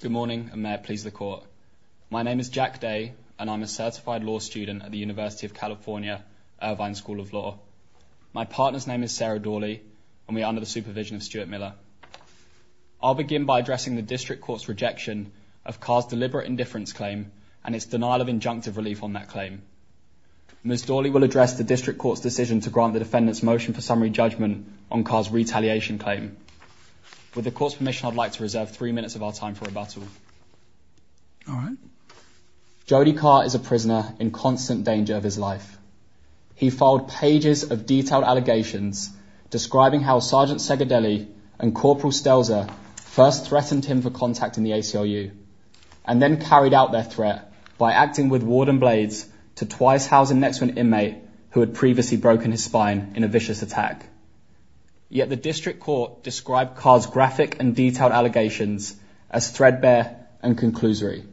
Good morning, and may it please the Court. My name is Jack Day, and I am a certified law student at the University of California, Irvine School of Law. My partner's name is Sarah Dawley, and we are under the supervision of Stuart Miller. I'll begin by addressing the District Court's rejection of Carr's deliberate indifference claim and its denial of injunctive relief on that claim. Ms. Dawley will address the District Court's decision to grant the defendant's motion for summary judgment on Carr's retaliation claim. With the Court's permission, I'd like to reserve three minutes of our time for rebuttal. All right. Jody Carr is a prisoner in constant danger of his life. He filed pages of detailed allegations describing how Sgt. Segardelli and Cpl. Stelzer first threatened him for contacting the ACLU, and then carried out their threat by acting with warden blades to twice house a next-win inmate who had previously broken his spine in a vicious attack. Yet the District Court described Carr's graphic and detailed allegations as threadbare and conclusory.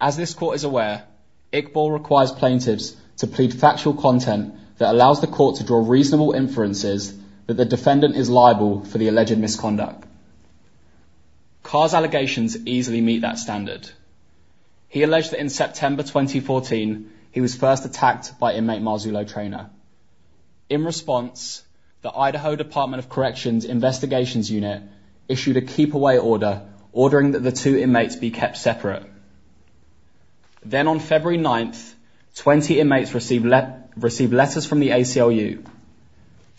As this Court is aware, Iqbal requires plaintiffs to plead factual content that allows the Court to draw reasonable inferences that the defendant is liable for the alleged misconduct. Carr's allegations easily meet that standard. He alleged that September 2014 he was first attacked by inmate Marzullo Traynor. In response, the Idaho Department of Corrections Investigations Unit issued a keep-away order ordering that the two inmates be kept separate. Then on February 9th, 20 inmates received letters from the ACLU.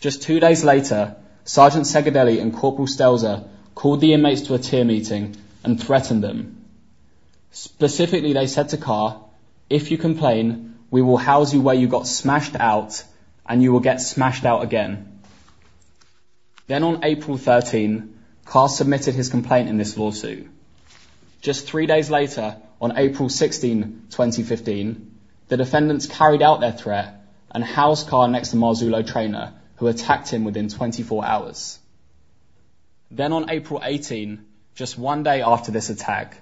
Just two days later, Sgt. Segardelli and Cpl. Stelzer called the inmates to a tier meeting and threatened them. Specifically, they said to Carr, if you complain, we will house you where you got smashed out, and you will get smashed out again. Then on April 13, Carr submitted his complaint in this lawsuit. Just three days later, on April 16, 2015, the defendants carried out their threat and housed Carr next to Marzullo Traynor, who attacked him within 24 hours. Then on April 18, just one day after this attack,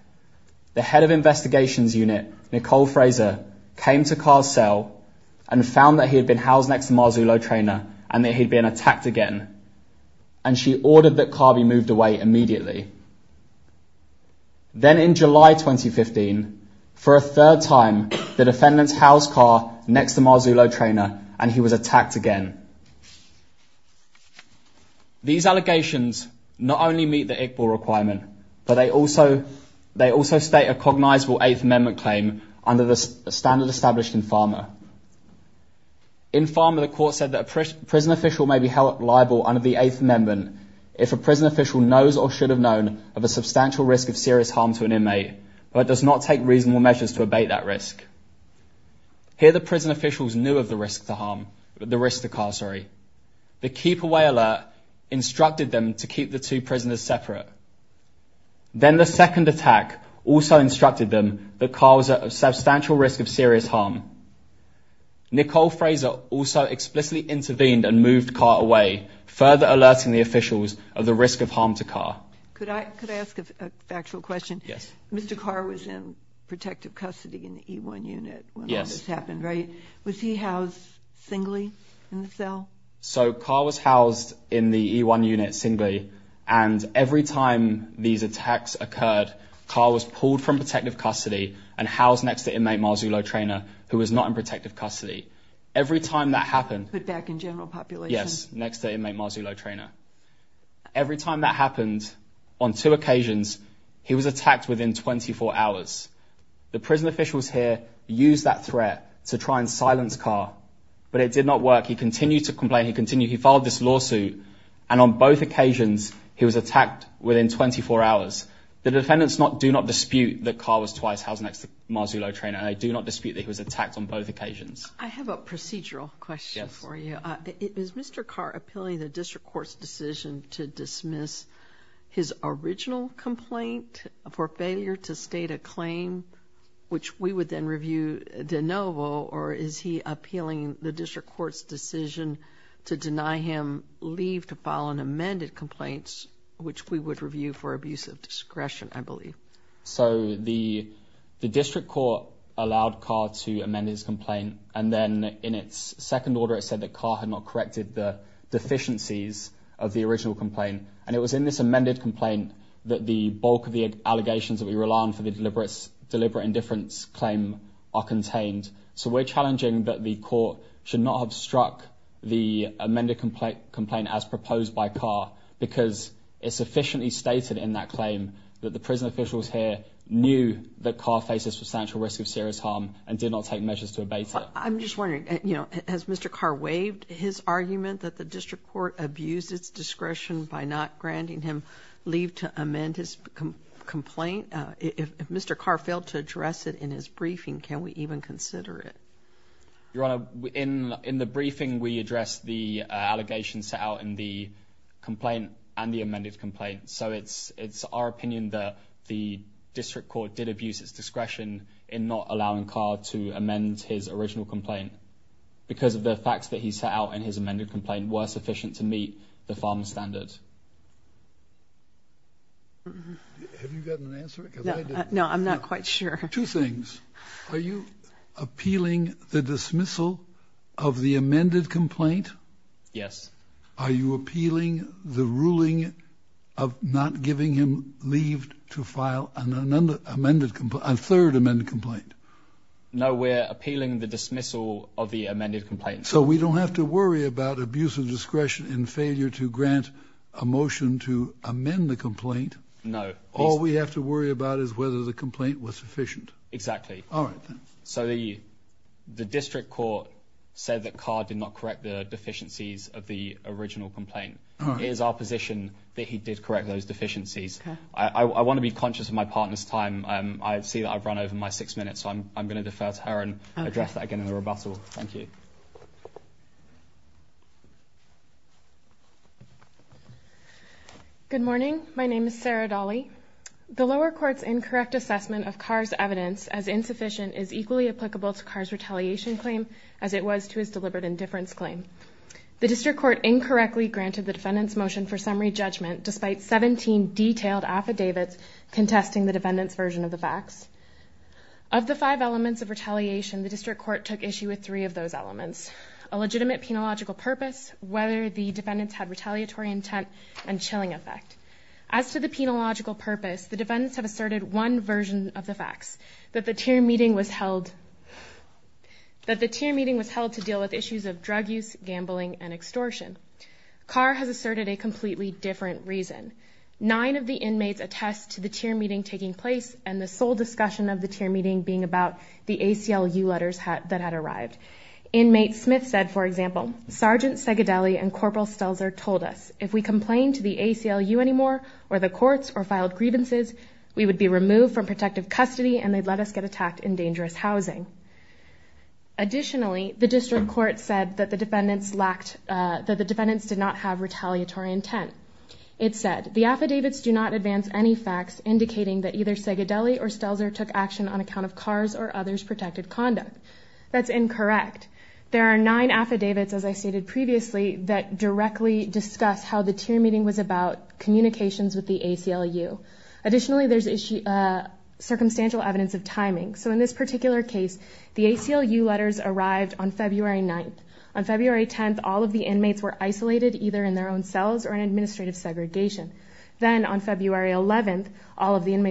the head of Investigations Unit, Nicole Fraser, came to Carr's cell and found that he had been housed next to Marzullo Traynor and that he'd been attacked again, and she ordered that Carr be moved away immediately. Then in July 2015, for a third time, the defendants housed Carr next to Marzullo Traynor and he was attacked again. These allegations not only meet the ICBOR requirement, but they also state a cognizable Eighth Amendment claim under the standard established in PhRMA. In PhRMA, the court said that a prison official may be held liable under the Eighth Amendment if a prison official knows or should have known of a substantial risk of serious harm to an inmate, but does not take reasonable measures to abate that risk. Here the prison officials knew of the risk to Carr. The keep-away alert instructed them to keep the two prisoners separate. Then the second attack also instructed them that Carr was at a substantial risk of serious harm. Nicole Fraser also explicitly intervened and moved Carr away, further alerting the officials of the risk of harm to Carr. Could I ask a factual question? Yes. Mr. Carr was in protective custody in the E1 unit when all this happened, right? Was he housed singly in the cell? So Carr was housed in the E1 unit singly and every time these attacks occurred, Carr was pulled from protective custody and housed next to inmate Marzullo Traynor, who was not in protective custody. Every time that happened... Put back in general population? Yes, next to inmate Marzullo Traynor. Every time that happened, on two occasions, he was attacked within 24 hours. The prison officials here used that threat to try and silence Carr, but it did not work. He continued to complain. He continued. He filed this lawsuit and on both occasions, he was attacked within 24 hours. The defendants do not dispute that Carr was twice housed next to Marzullo Traynor. They do not dispute that he was attacked on both occasions. I have a procedural question for you. Is Mr. Carr appealing the district court's decision to dismiss his original complaint for failure to state a claim, which we would then review de novo, or is he appealing the district court's decision to deny him leave to file an amended complaint, which we would review for abuse of discretion, I believe? So the district court allowed Carr to amend his complaint and then in its second order, said that Carr had not corrected the deficiencies of the original complaint and it was in this amended complaint that the bulk of the allegations that we rely on for the deliberate indifference claim are contained. So we're challenging that the court should not have struck the amended complaint as proposed by Carr because it's sufficiently stated in that claim that the prison officials here knew that Carr faces substantial risk of serious harm and did not take measures to abate it. I'm just wondering, you know, has Mr. Carr waived his argument that the district court abused its discretion by not granting him leave to amend his complaint? If Mr. Carr failed to address it in his briefing, can we even consider it? Your Honor, in the briefing, we addressed the allegations set out in the complaint and the amended complaint. So it's our opinion that the district court did abuse its discretion in not allowing Carr to amend his original complaint because of the facts that he set out in his amended complaint were sufficient to meet the farmer standard. Have you gotten an answer? No, I'm not quite sure. Two things. Are you appealing the dismissal of the amended complaint? Yes. Are you appealing the ruling of not giving him leave to file an amended complaint, a deferred amended complaint? No, we're appealing the dismissal of the amended complaint. So we don't have to worry about abuse of discretion in failure to grant a motion to amend the complaint. No. All we have to worry about is whether the complaint was sufficient. Exactly. All right. So the district court said that Carr did not correct the deficiencies of the original complaint. It is our position that he did correct those deficiencies. I want to be I'm going to defer to her and address that again in the rebuttal. Thank you. Good morning. My name is Sarah Dolly. The lower court's incorrect assessment of Carr's evidence as insufficient is equally applicable to Carr's retaliation claim as it was to his deliberate indifference claim. The district court incorrectly granted the defendant's motion for summary judgment despite 17 detailed affidavits contesting the defendant's facts. Of the five elements of retaliation, the district court took issue with three of those elements, a legitimate penological purpose, whether the defendants had retaliatory intent, and chilling effect. As to the penological purpose, the defendants have asserted one version of the facts, that the tier meeting was held to deal with issues of drug use, gambling, and extortion. Carr has asserted a completely different reason. Nine of the inmates attest to the tier meeting taking place and the sole discussion of the tier meeting being about the ACLU letters that had arrived. Inmate Smith said, for example, Sergeant Segadelli and Corporal Stelzer told us, if we complained to the ACLU anymore or the courts or filed grievances, we would be removed from protective custody and they'd let us get attacked in dangerous housing. Additionally, the district court said that the defendants did not have either Segadelli or Stelzer took action on account of Carr's or others' protected conduct. That's incorrect. There are nine affidavits, as I stated previously, that directly discuss how the tier meeting was about communications with the ACLU. Additionally, there's circumstantial evidence of timing. So in this particular case, the ACLU letters arrived on February 9th. On February 10th, all of the inmates were isolated either in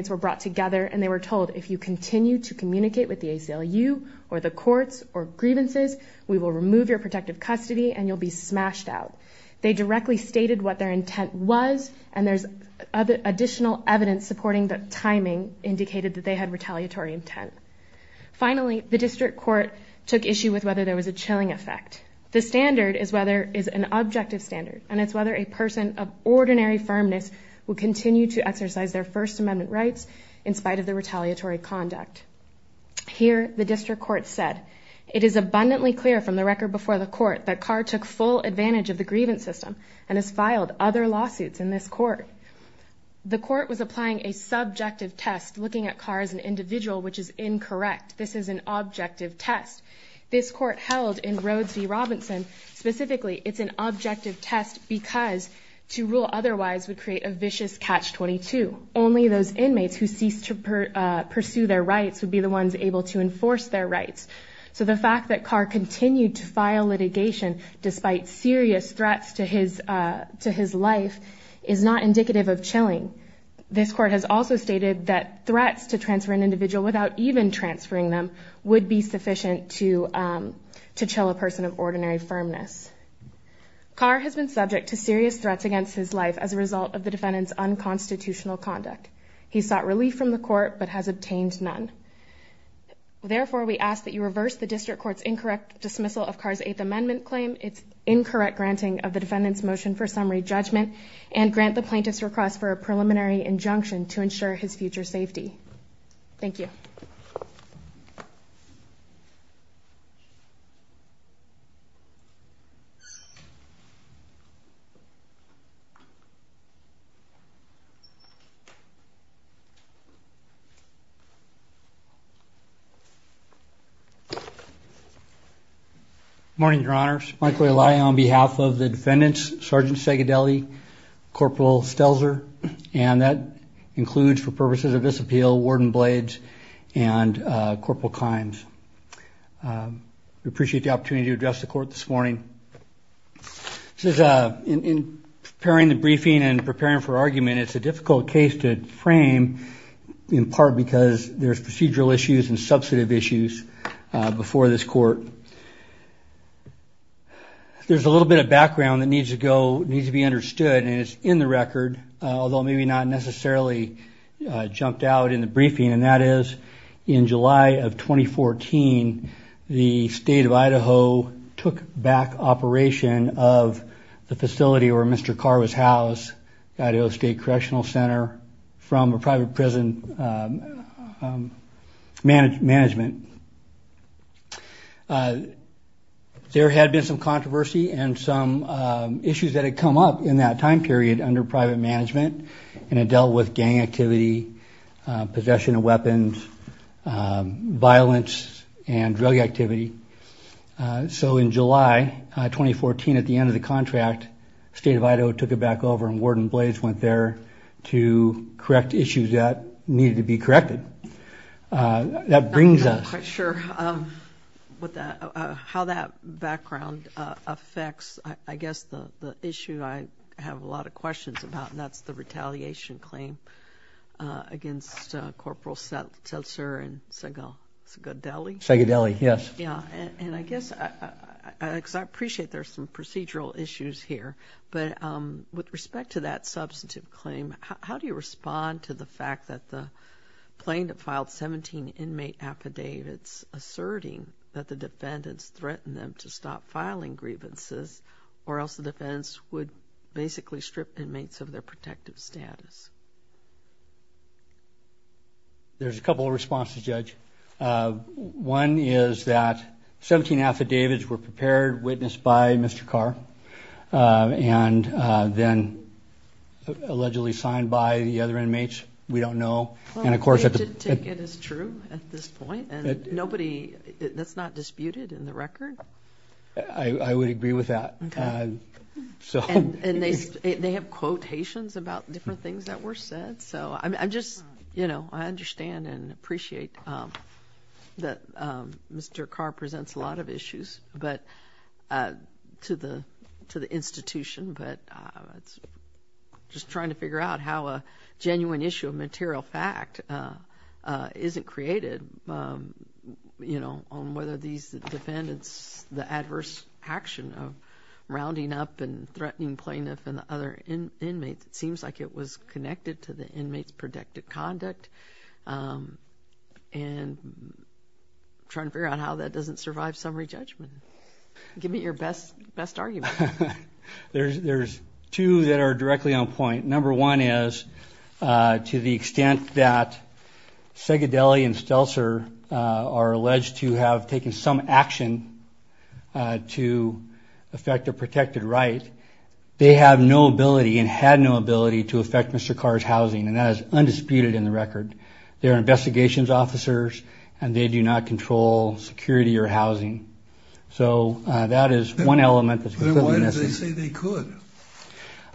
were brought together and they were told, if you continue to communicate with the ACLU or the courts or grievances, we will remove your protective custody and you'll be smashed out. They directly stated what their intent was and there's additional evidence supporting the timing indicated that they had retaliatory intent. Finally, the district court took issue with whether there was a chilling effect. The standard is whether is an objective standard and it's whether a person of ordinary firmness will continue to exercise their First Amendment rights in spite of the retaliatory conduct. Here, the district court said, it is abundantly clear from the record before the court that Carr took full advantage of the grievance system and has filed other lawsuits in this court. The court was applying a subjective test looking at Carr as an individual, which is incorrect. This is an objective test. This court held in Rhodes v. Robinson. Specifically, it's an objective test because to rule otherwise would create a vicious catch-22. Only those inmates who cease to pursue their rights would be the ones able to enforce their rights. So the fact that Carr continued to file litigation despite serious threats to his life is not indicative of chilling. This court has also stated that threats to transfer an individual without even transferring them would be sufficient to chill a person of ordinary firmness. Carr has been subject to serious threats against his life as a result of the defendant's unconstitutional conduct. He sought relief from the court but has obtained none. Therefore, we ask that you reverse the district court's incorrect dismissal of Carr's Eighth Amendment claim, its incorrect granting of the defendant's motion for summary judgment, and grant the plaintiff's request for a preliminary injunction to ensure his future safety. Thank you. Good morning, your honors. Michael Ely on behalf of the defendants, Sergeant Segedeli, Corporal Stelzer, and that includes for purposes of this appeal, Warden Blades, and Corporal Clines. We appreciate the opportunity to address the court this morning. In preparing the briefing and preparing for argument, it's a difficult case to frame in part because there's procedural issues and substantive issues before this court. There's a little bit of background that needs to be understood and it's in the record, although maybe not In 2014, the state of Idaho took back operation of the facility where Mr. Carr was housed, Idaho State Correctional Center, from a private prison management. There had been some controversy and some issues that had come up in that time period under private management and it dealt with gang activity, possession of weapons, violence, and drug activity. So in July 2014, at the end of the contract, the state of Idaho took it back over and Warden Blades went there to correct issues that needed to be corrected. That brings us... Sure. How that background affects, I guess, the issue I have a lot of questions about, that's the retaliation claim against Corporal Seltzer and Segodeli. Segodeli, yes. Yeah, and I guess, I appreciate there's some procedural issues here, but with respect to that substantive claim, how do you respond to the fact that the plaintiff filed 17 inmate affidavits asserting that the defendants threatened them to stop filing grievances, or else the defense would basically strip inmates of their protective status? There's a couple of responses, Judge. One is that 17 affidavits were prepared, witnessed by Mr. Carr, and then allegedly signed by the other inmates. We don't know, and of course... It is true at this point, and nobody, that's not disputed in the record? I would agree with that. They have quotations about different things that were said. I understand and appreciate that Mr. Carr presents a lot of issues to the institution, but I'm just trying to figure out how a genuine issue of material fact isn't created on whether these defendants, the adverse action of rounding up and threatening plaintiff and the other inmates, it seems like it was connected to the inmates' protective conduct, and trying to figure out how that doesn't survive summary judgment. Give me your best argument. There's two that are directly on point. Number one is, to the extent that Segedeli and Stelzer are alleged to have taken some action to affect their protected right, they have no ability and had no ability to affect Mr. Carr's housing, and that is undisputed in the record. They're investigations officers, and they do not control security or housing. So that is one element that's... Then why did they say they could?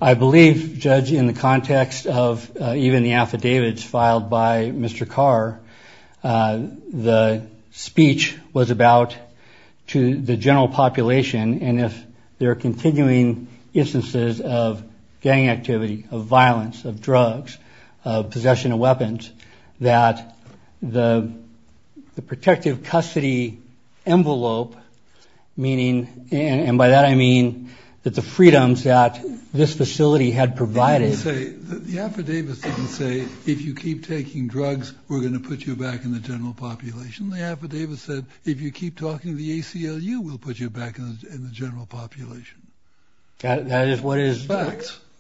I believe, Judge, in the context of even the affidavits filed by Mr. Carr, the speech was about to the general population, and if there are continuing instances of gang activity, of violence, of drugs, of possession of weapons, that the protective custody envelope, meaning, and by that I mean, that the freedoms that this facility had provided... The affidavits didn't say, if you keep taking drugs, we're going to put you back in the general population. The affidavits said, if you keep talking to the ACLU, we'll put you back in the general population. That is what is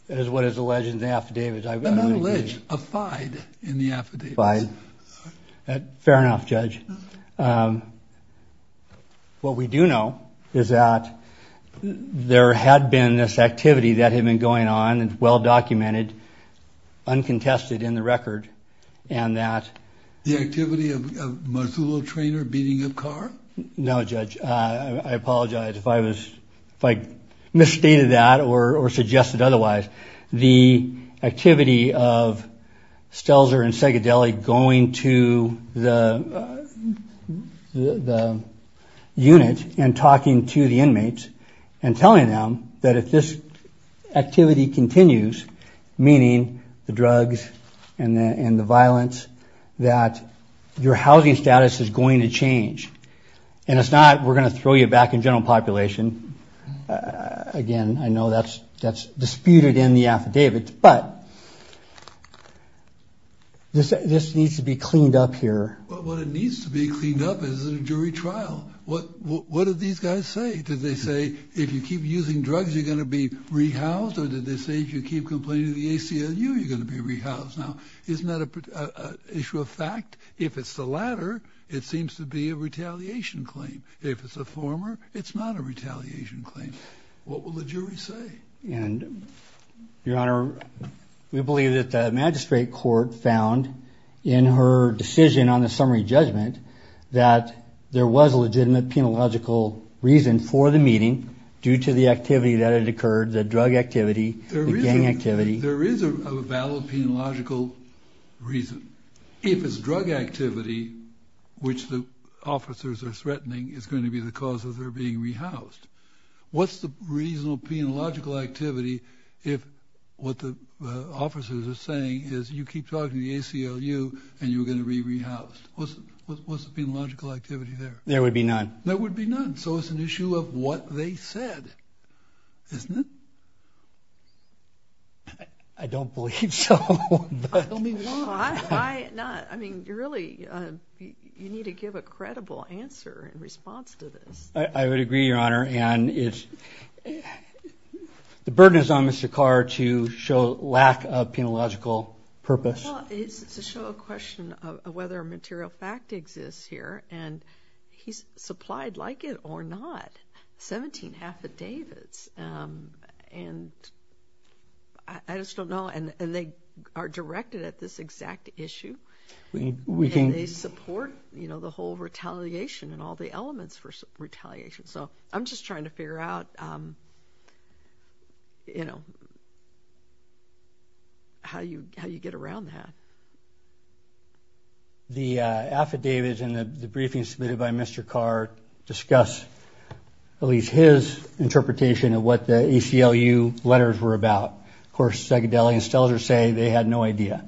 alleged in the affidavits. And I'm alleged, affied, in the affidavits. Fair enough, Judge. What we do know is that there had been this activity that had been going on, and well documented, uncontested in the record, and that... The activity of a Masulo trainer beating up Carr? No, Judge, I apologize if I was, or suggested otherwise. The activity of Stelzer and Segadelli going to the unit and talking to the inmates, and telling them that if this activity continues, meaning the drugs and the violence, that your housing status is going to change. And it's not, we're going to throw you back in general population. Again, I know that's disputed in the affidavits, but this needs to be cleaned up here. What it needs to be cleaned up is a jury trial. What did these guys say? Did they say, if you keep using drugs, you're going to be rehoused? Or did they say, if you keep complaining to the ACLU, you're going to be rehoused? Now, isn't that an issue of fact? If it's the latter, it seems to be a retaliation claim. If it's a former, it's not a retaliation claim. What will the jury say? Your Honor, we believe that the magistrate court found in her decision on the summary judgment that there was a legitimate penological reason for the meeting due to the activity that had occurred. If it's drug activity, which the officers are threatening is going to be the cause of their being rehoused, what's the reasonable penological activity if what the officers are saying is you keep talking to the ACLU and you're going to be rehoused? What's the penological activity there? There would be none. There would be none. So it's an issue of what they said, isn't it? I don't believe so. I mean, you really need to give a credible answer in response to this. I would agree, Your Honor. And the burden is on Mr. Carr to show lack of penological purpose. It's to show a question of whether a material fact exists here. And he's supplied like it or not, 17 affidavits. And I just don't know. And they are directed at this exact issue. They support, you know, the whole retaliation and all the elements for retaliation. So I'm just trying to figure out, you know, how you get around that. The affidavits and the briefings submitted by Mr. Carr discuss at least his interpretation of what the ACLU letters were about. Of course, Zegedelli and Stelzer say they had no idea.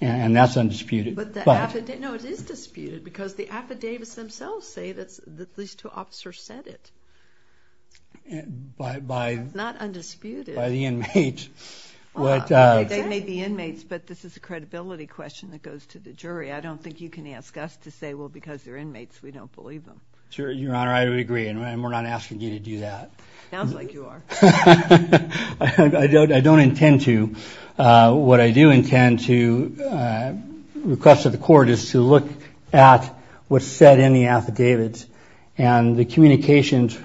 And that's undisputed. But the affidavit, no, it is disputed because the affidavits themselves say that these two officers said it. Not undisputed. By the inmates. They may be inmates, but this is a question that goes to the jury. I don't think you can ask us to say, well, because they're inmates, we don't believe them. Sure, Your Honor, I would agree. And we're not asking you to do that. Sounds like you are. I don't intend to. What I do intend to request of the court is to look at what's said in the affidavits. And the communications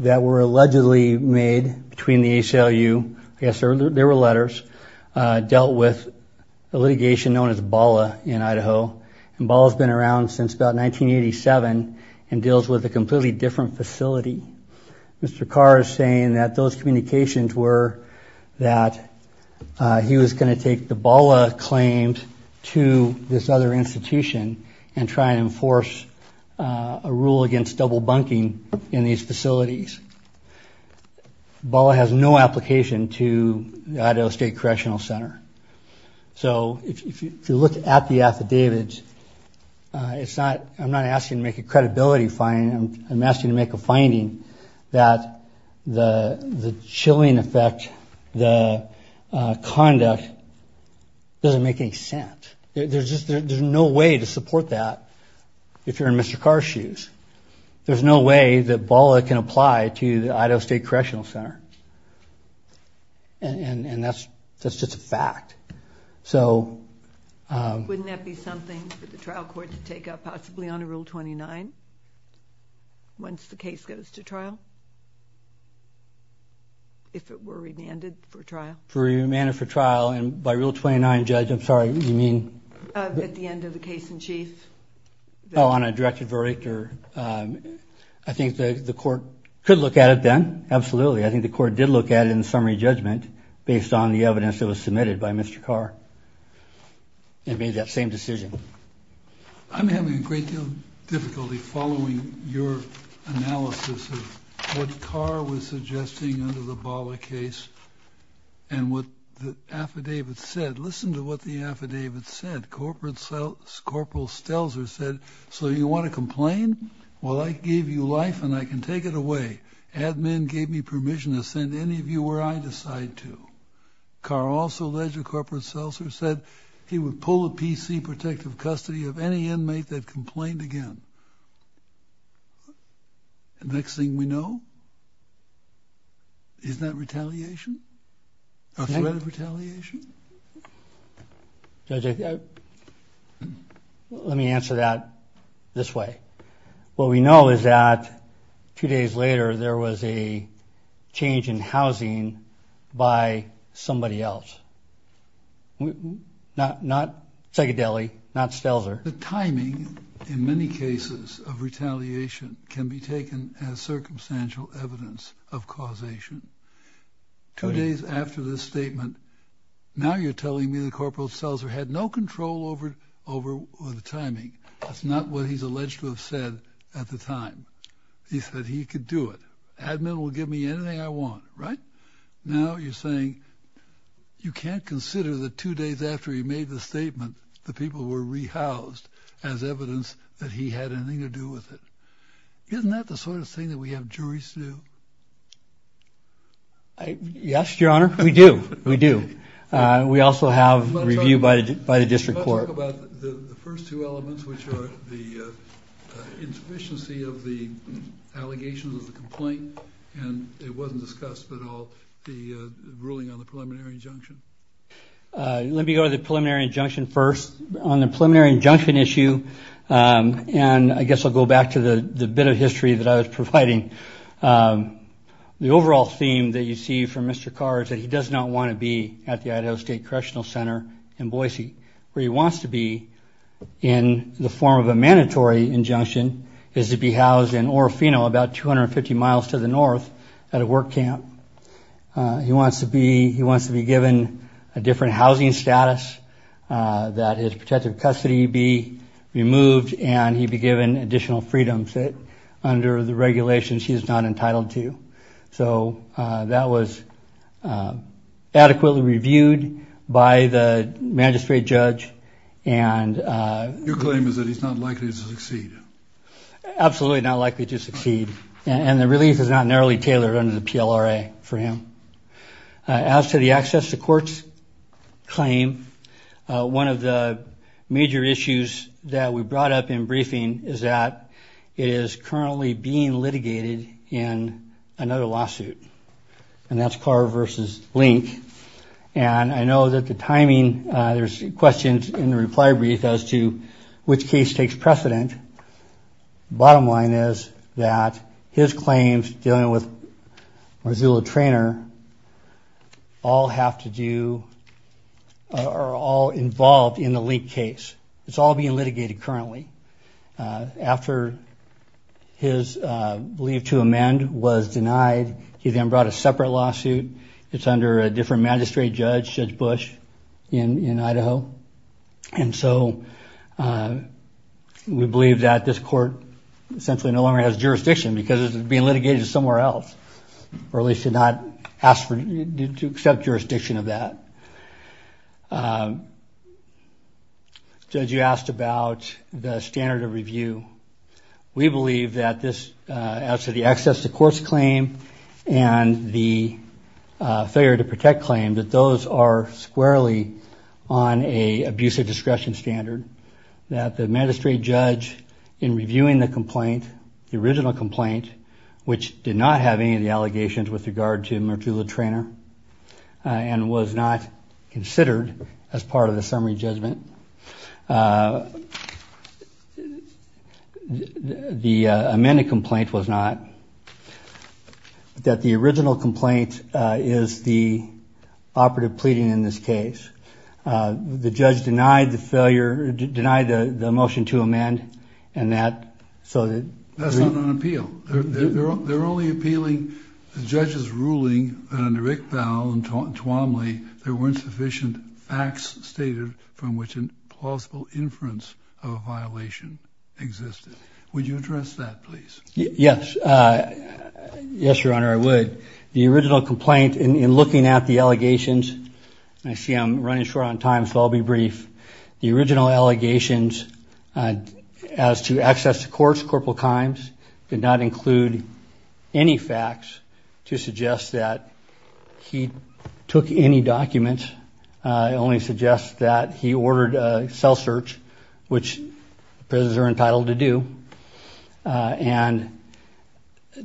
that were allegedly made between the ACLU, yes, there were letters, dealt with a litigation known as BALA in Idaho. And BALA has been around since about 1987 and deals with a completely different facility. Mr. Carr is saying that those communications were that he was going to take the BALA claims to this other institution and try and enforce a rule against double bunking in these facilities. BALA has no application to the Idaho State Correctional Center. So if you look at the affidavits, I'm not asking to make a credibility finding. I'm asking to make a finding that the chilling effect, the conduct doesn't make any sense. There's no way to support that if you're in Mr. Carr's shoes. There's no way that BALA can apply to the Idaho State Correctional Center. And that's just a fact. Wouldn't that be something for the trial court to take up, possibly under Rule 29, once the case goes to trial? If it were remanded for trial? Remanded for trial, and by Rule 29, Judge, I'm sorry, you mean? At the end of the case in chief? Oh, on a directed verdict? I think the court could look at it then, absolutely. I think the court did look at it in the summary judgment based on the evidence that was submitted by Mr. Carr and made that same decision. I'm having a great deal of difficulty following your analysis of what Carr was suggesting under the BALA case and what the affidavit said. Corporal Stelzer said, so you want to complain? Well, I gave you life and I can take it away. Admin gave me permission to send any of you where I decide to. Carr also alleged that Corporal Stelzer said he would pull a PC protective custody of any inmate that complained again. Next thing we know, isn't that retaliation? A threat of retaliation? Judge, let me answer that this way. What we know is that two days later, there was a change in housing by somebody else. Not Segedeli, not Stelzer. The timing in many cases of retaliation can be taken as circumstantial evidence of causation. Two days after this statement, now you're telling me that Corporal Stelzer had no control over the timing. That's not what he's alleged to have said at the time. He said he could do it. Admin will give me anything I want, right? Now you're saying you can't consider that two days after he made the statement, the people were rehoused as evidence that he had anything to do with it. Isn't that the sort of thing that we have juries to do? Yes, Your Honor, we do. We do. We also have review by the district court. Let's talk about the first two elements, which are the insufficiency of the allegations of the complaint, and it wasn't discussed at all, the ruling on the preliminary injunction. Let me go to the preliminary injunction first. On the preliminary injunction issue, and I guess I'll go back to the bit of history that I was providing, the overall theme that you see from Mr. Carr is that he does not want to be at the Idaho State Correctional Center in Boise, where he wants to be in the form of a mandatory injunction, is to be housed in Orofino, about 250 miles to the north, at a work camp. He wants to be given a different housing status, that his protective custody be removed, and he be given additional freedom under the regulations he is not entitled to. So that was adequately reviewed by the magistrate judge. Your claim is that he's not likely to succeed? Absolutely not likely to succeed, and the release is not narrowly tailored under the PLRA for him. As to the access to courts claim, one of the major issues that we brought up in briefing is that it is currently being litigated in another lawsuit, and that's Carr v. Link, and I know that the timing, there's questions in the reply brief as to which case takes precedent. Bottom line is that his claims dealing with Marzullo Traynor all have to do, are all involved in the Link case. It's all being litigated currently. After his plea to amend was denied, he then brought a separate lawsuit. It's under a different magistrate judge, Judge Bush, in Idaho, and so we believe that this court essentially no longer has jurisdiction, because it's being litigated somewhere else, or at least did not ask to accept jurisdiction of that. Judge, you asked about the standard of review. We believe that this, as to the access to courts claim, and the failure to protect claim, that those are squarely on an abusive discretion standard, that the magistrate judge, in reviewing the complaint, the original complaint, which did not have any of the allegations with regard to Marzullo Traynor, and was not considered as part of the summary judgment, the amended complaint was not, that the original complaint is the operative pleading in this case. The judge denied the failure, denied the motion to amend, and that, so that... That's not an appeal. They're only appealing the judge's ruling that under Iqbal and Twomley, there weren't sufficient facts stated from which an implausible inference of a violation existed. Would you address that, please? Yes. Yes, Your Honor, I would. The original complaint, in looking at the allegations, I see I'm running short on time, so I'll be brief. The original allegations as to access to courts, Corporal Kimes, did not include any facts to suggest that he took any documents. It only suggests that he ordered a cell search, which prisoners are entitled to do, and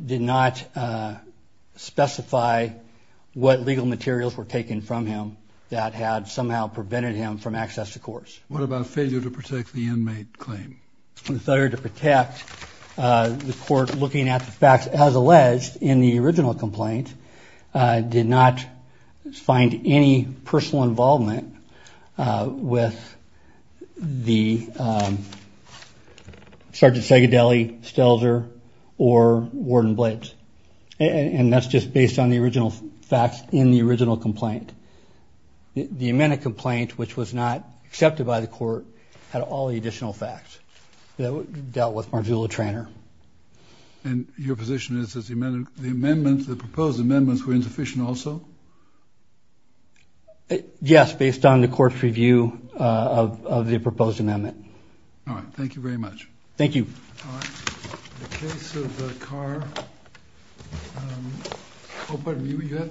did not specify what legal materials were taken from him that had somehow prevented him from access to courts. What about failure to protect the inmate claim? The failure to protect the court, looking at the facts as alleged in the original complaint, did not find any personal involvement with the Sergeant Seggedeli, Stelzer, or Warden Blades. And that's just based on the original facts in the original complaint. The amended complaint, which was not accepted by the court, had all the additional facts that dealt with Marzullo-Trainor. And your position is that the proposed amendments were insufficient also? Yes, based on the court's review of the proposed amendment. All right. Thank you very much. Thank you. In the case of Carr,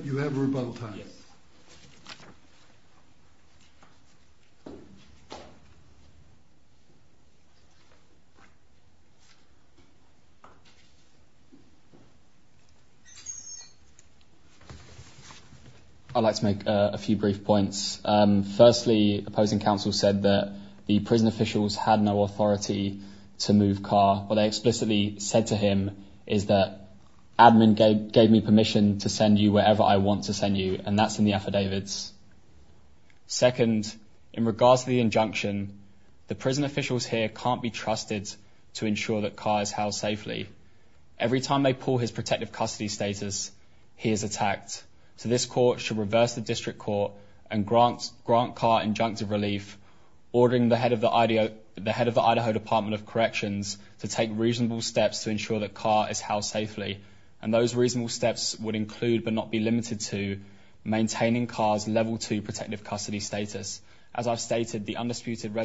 you have rebuttal time. I'd like to make a few brief points. Firstly, opposing counsel said that the prison officials had no authority to move Carr. What they explicitly said to him is that admin gave me permission to send you wherever I want to send you. And that's in the affidavits. Second, in regards to the injunction, the prison officials here can't be trusted to ensure that Carr is held safely. Every time they pull his protective custody status, he is attacked. So this court should reverse the district court and grant Carr injunctive relief, ordering the head of the Idaho Department of Corrections to take reasonable steps to ensure that Carr is held safely. And those reasonable steps would include, but not be limited to, maintaining Carr's Level 2 protective custody status. As I've stated, the undisputed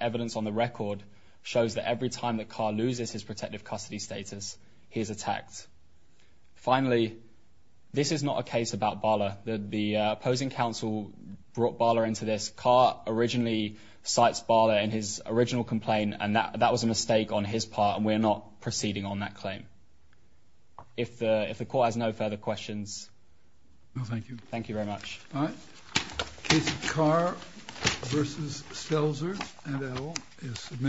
evidence on the record shows that every time that Carr loses his protective custody status, he is attacked. Finally, this is not a case about Bala. The opposing counsel brought Bala into this. Carr originally cites Bala in his original complaint, and that was a mistake on his part, and we're not proceeding on that claim. If the court has no further questions... No, thank you. Thank you very much. All right. Case of Carr v. Stelzer, NL, is submitted.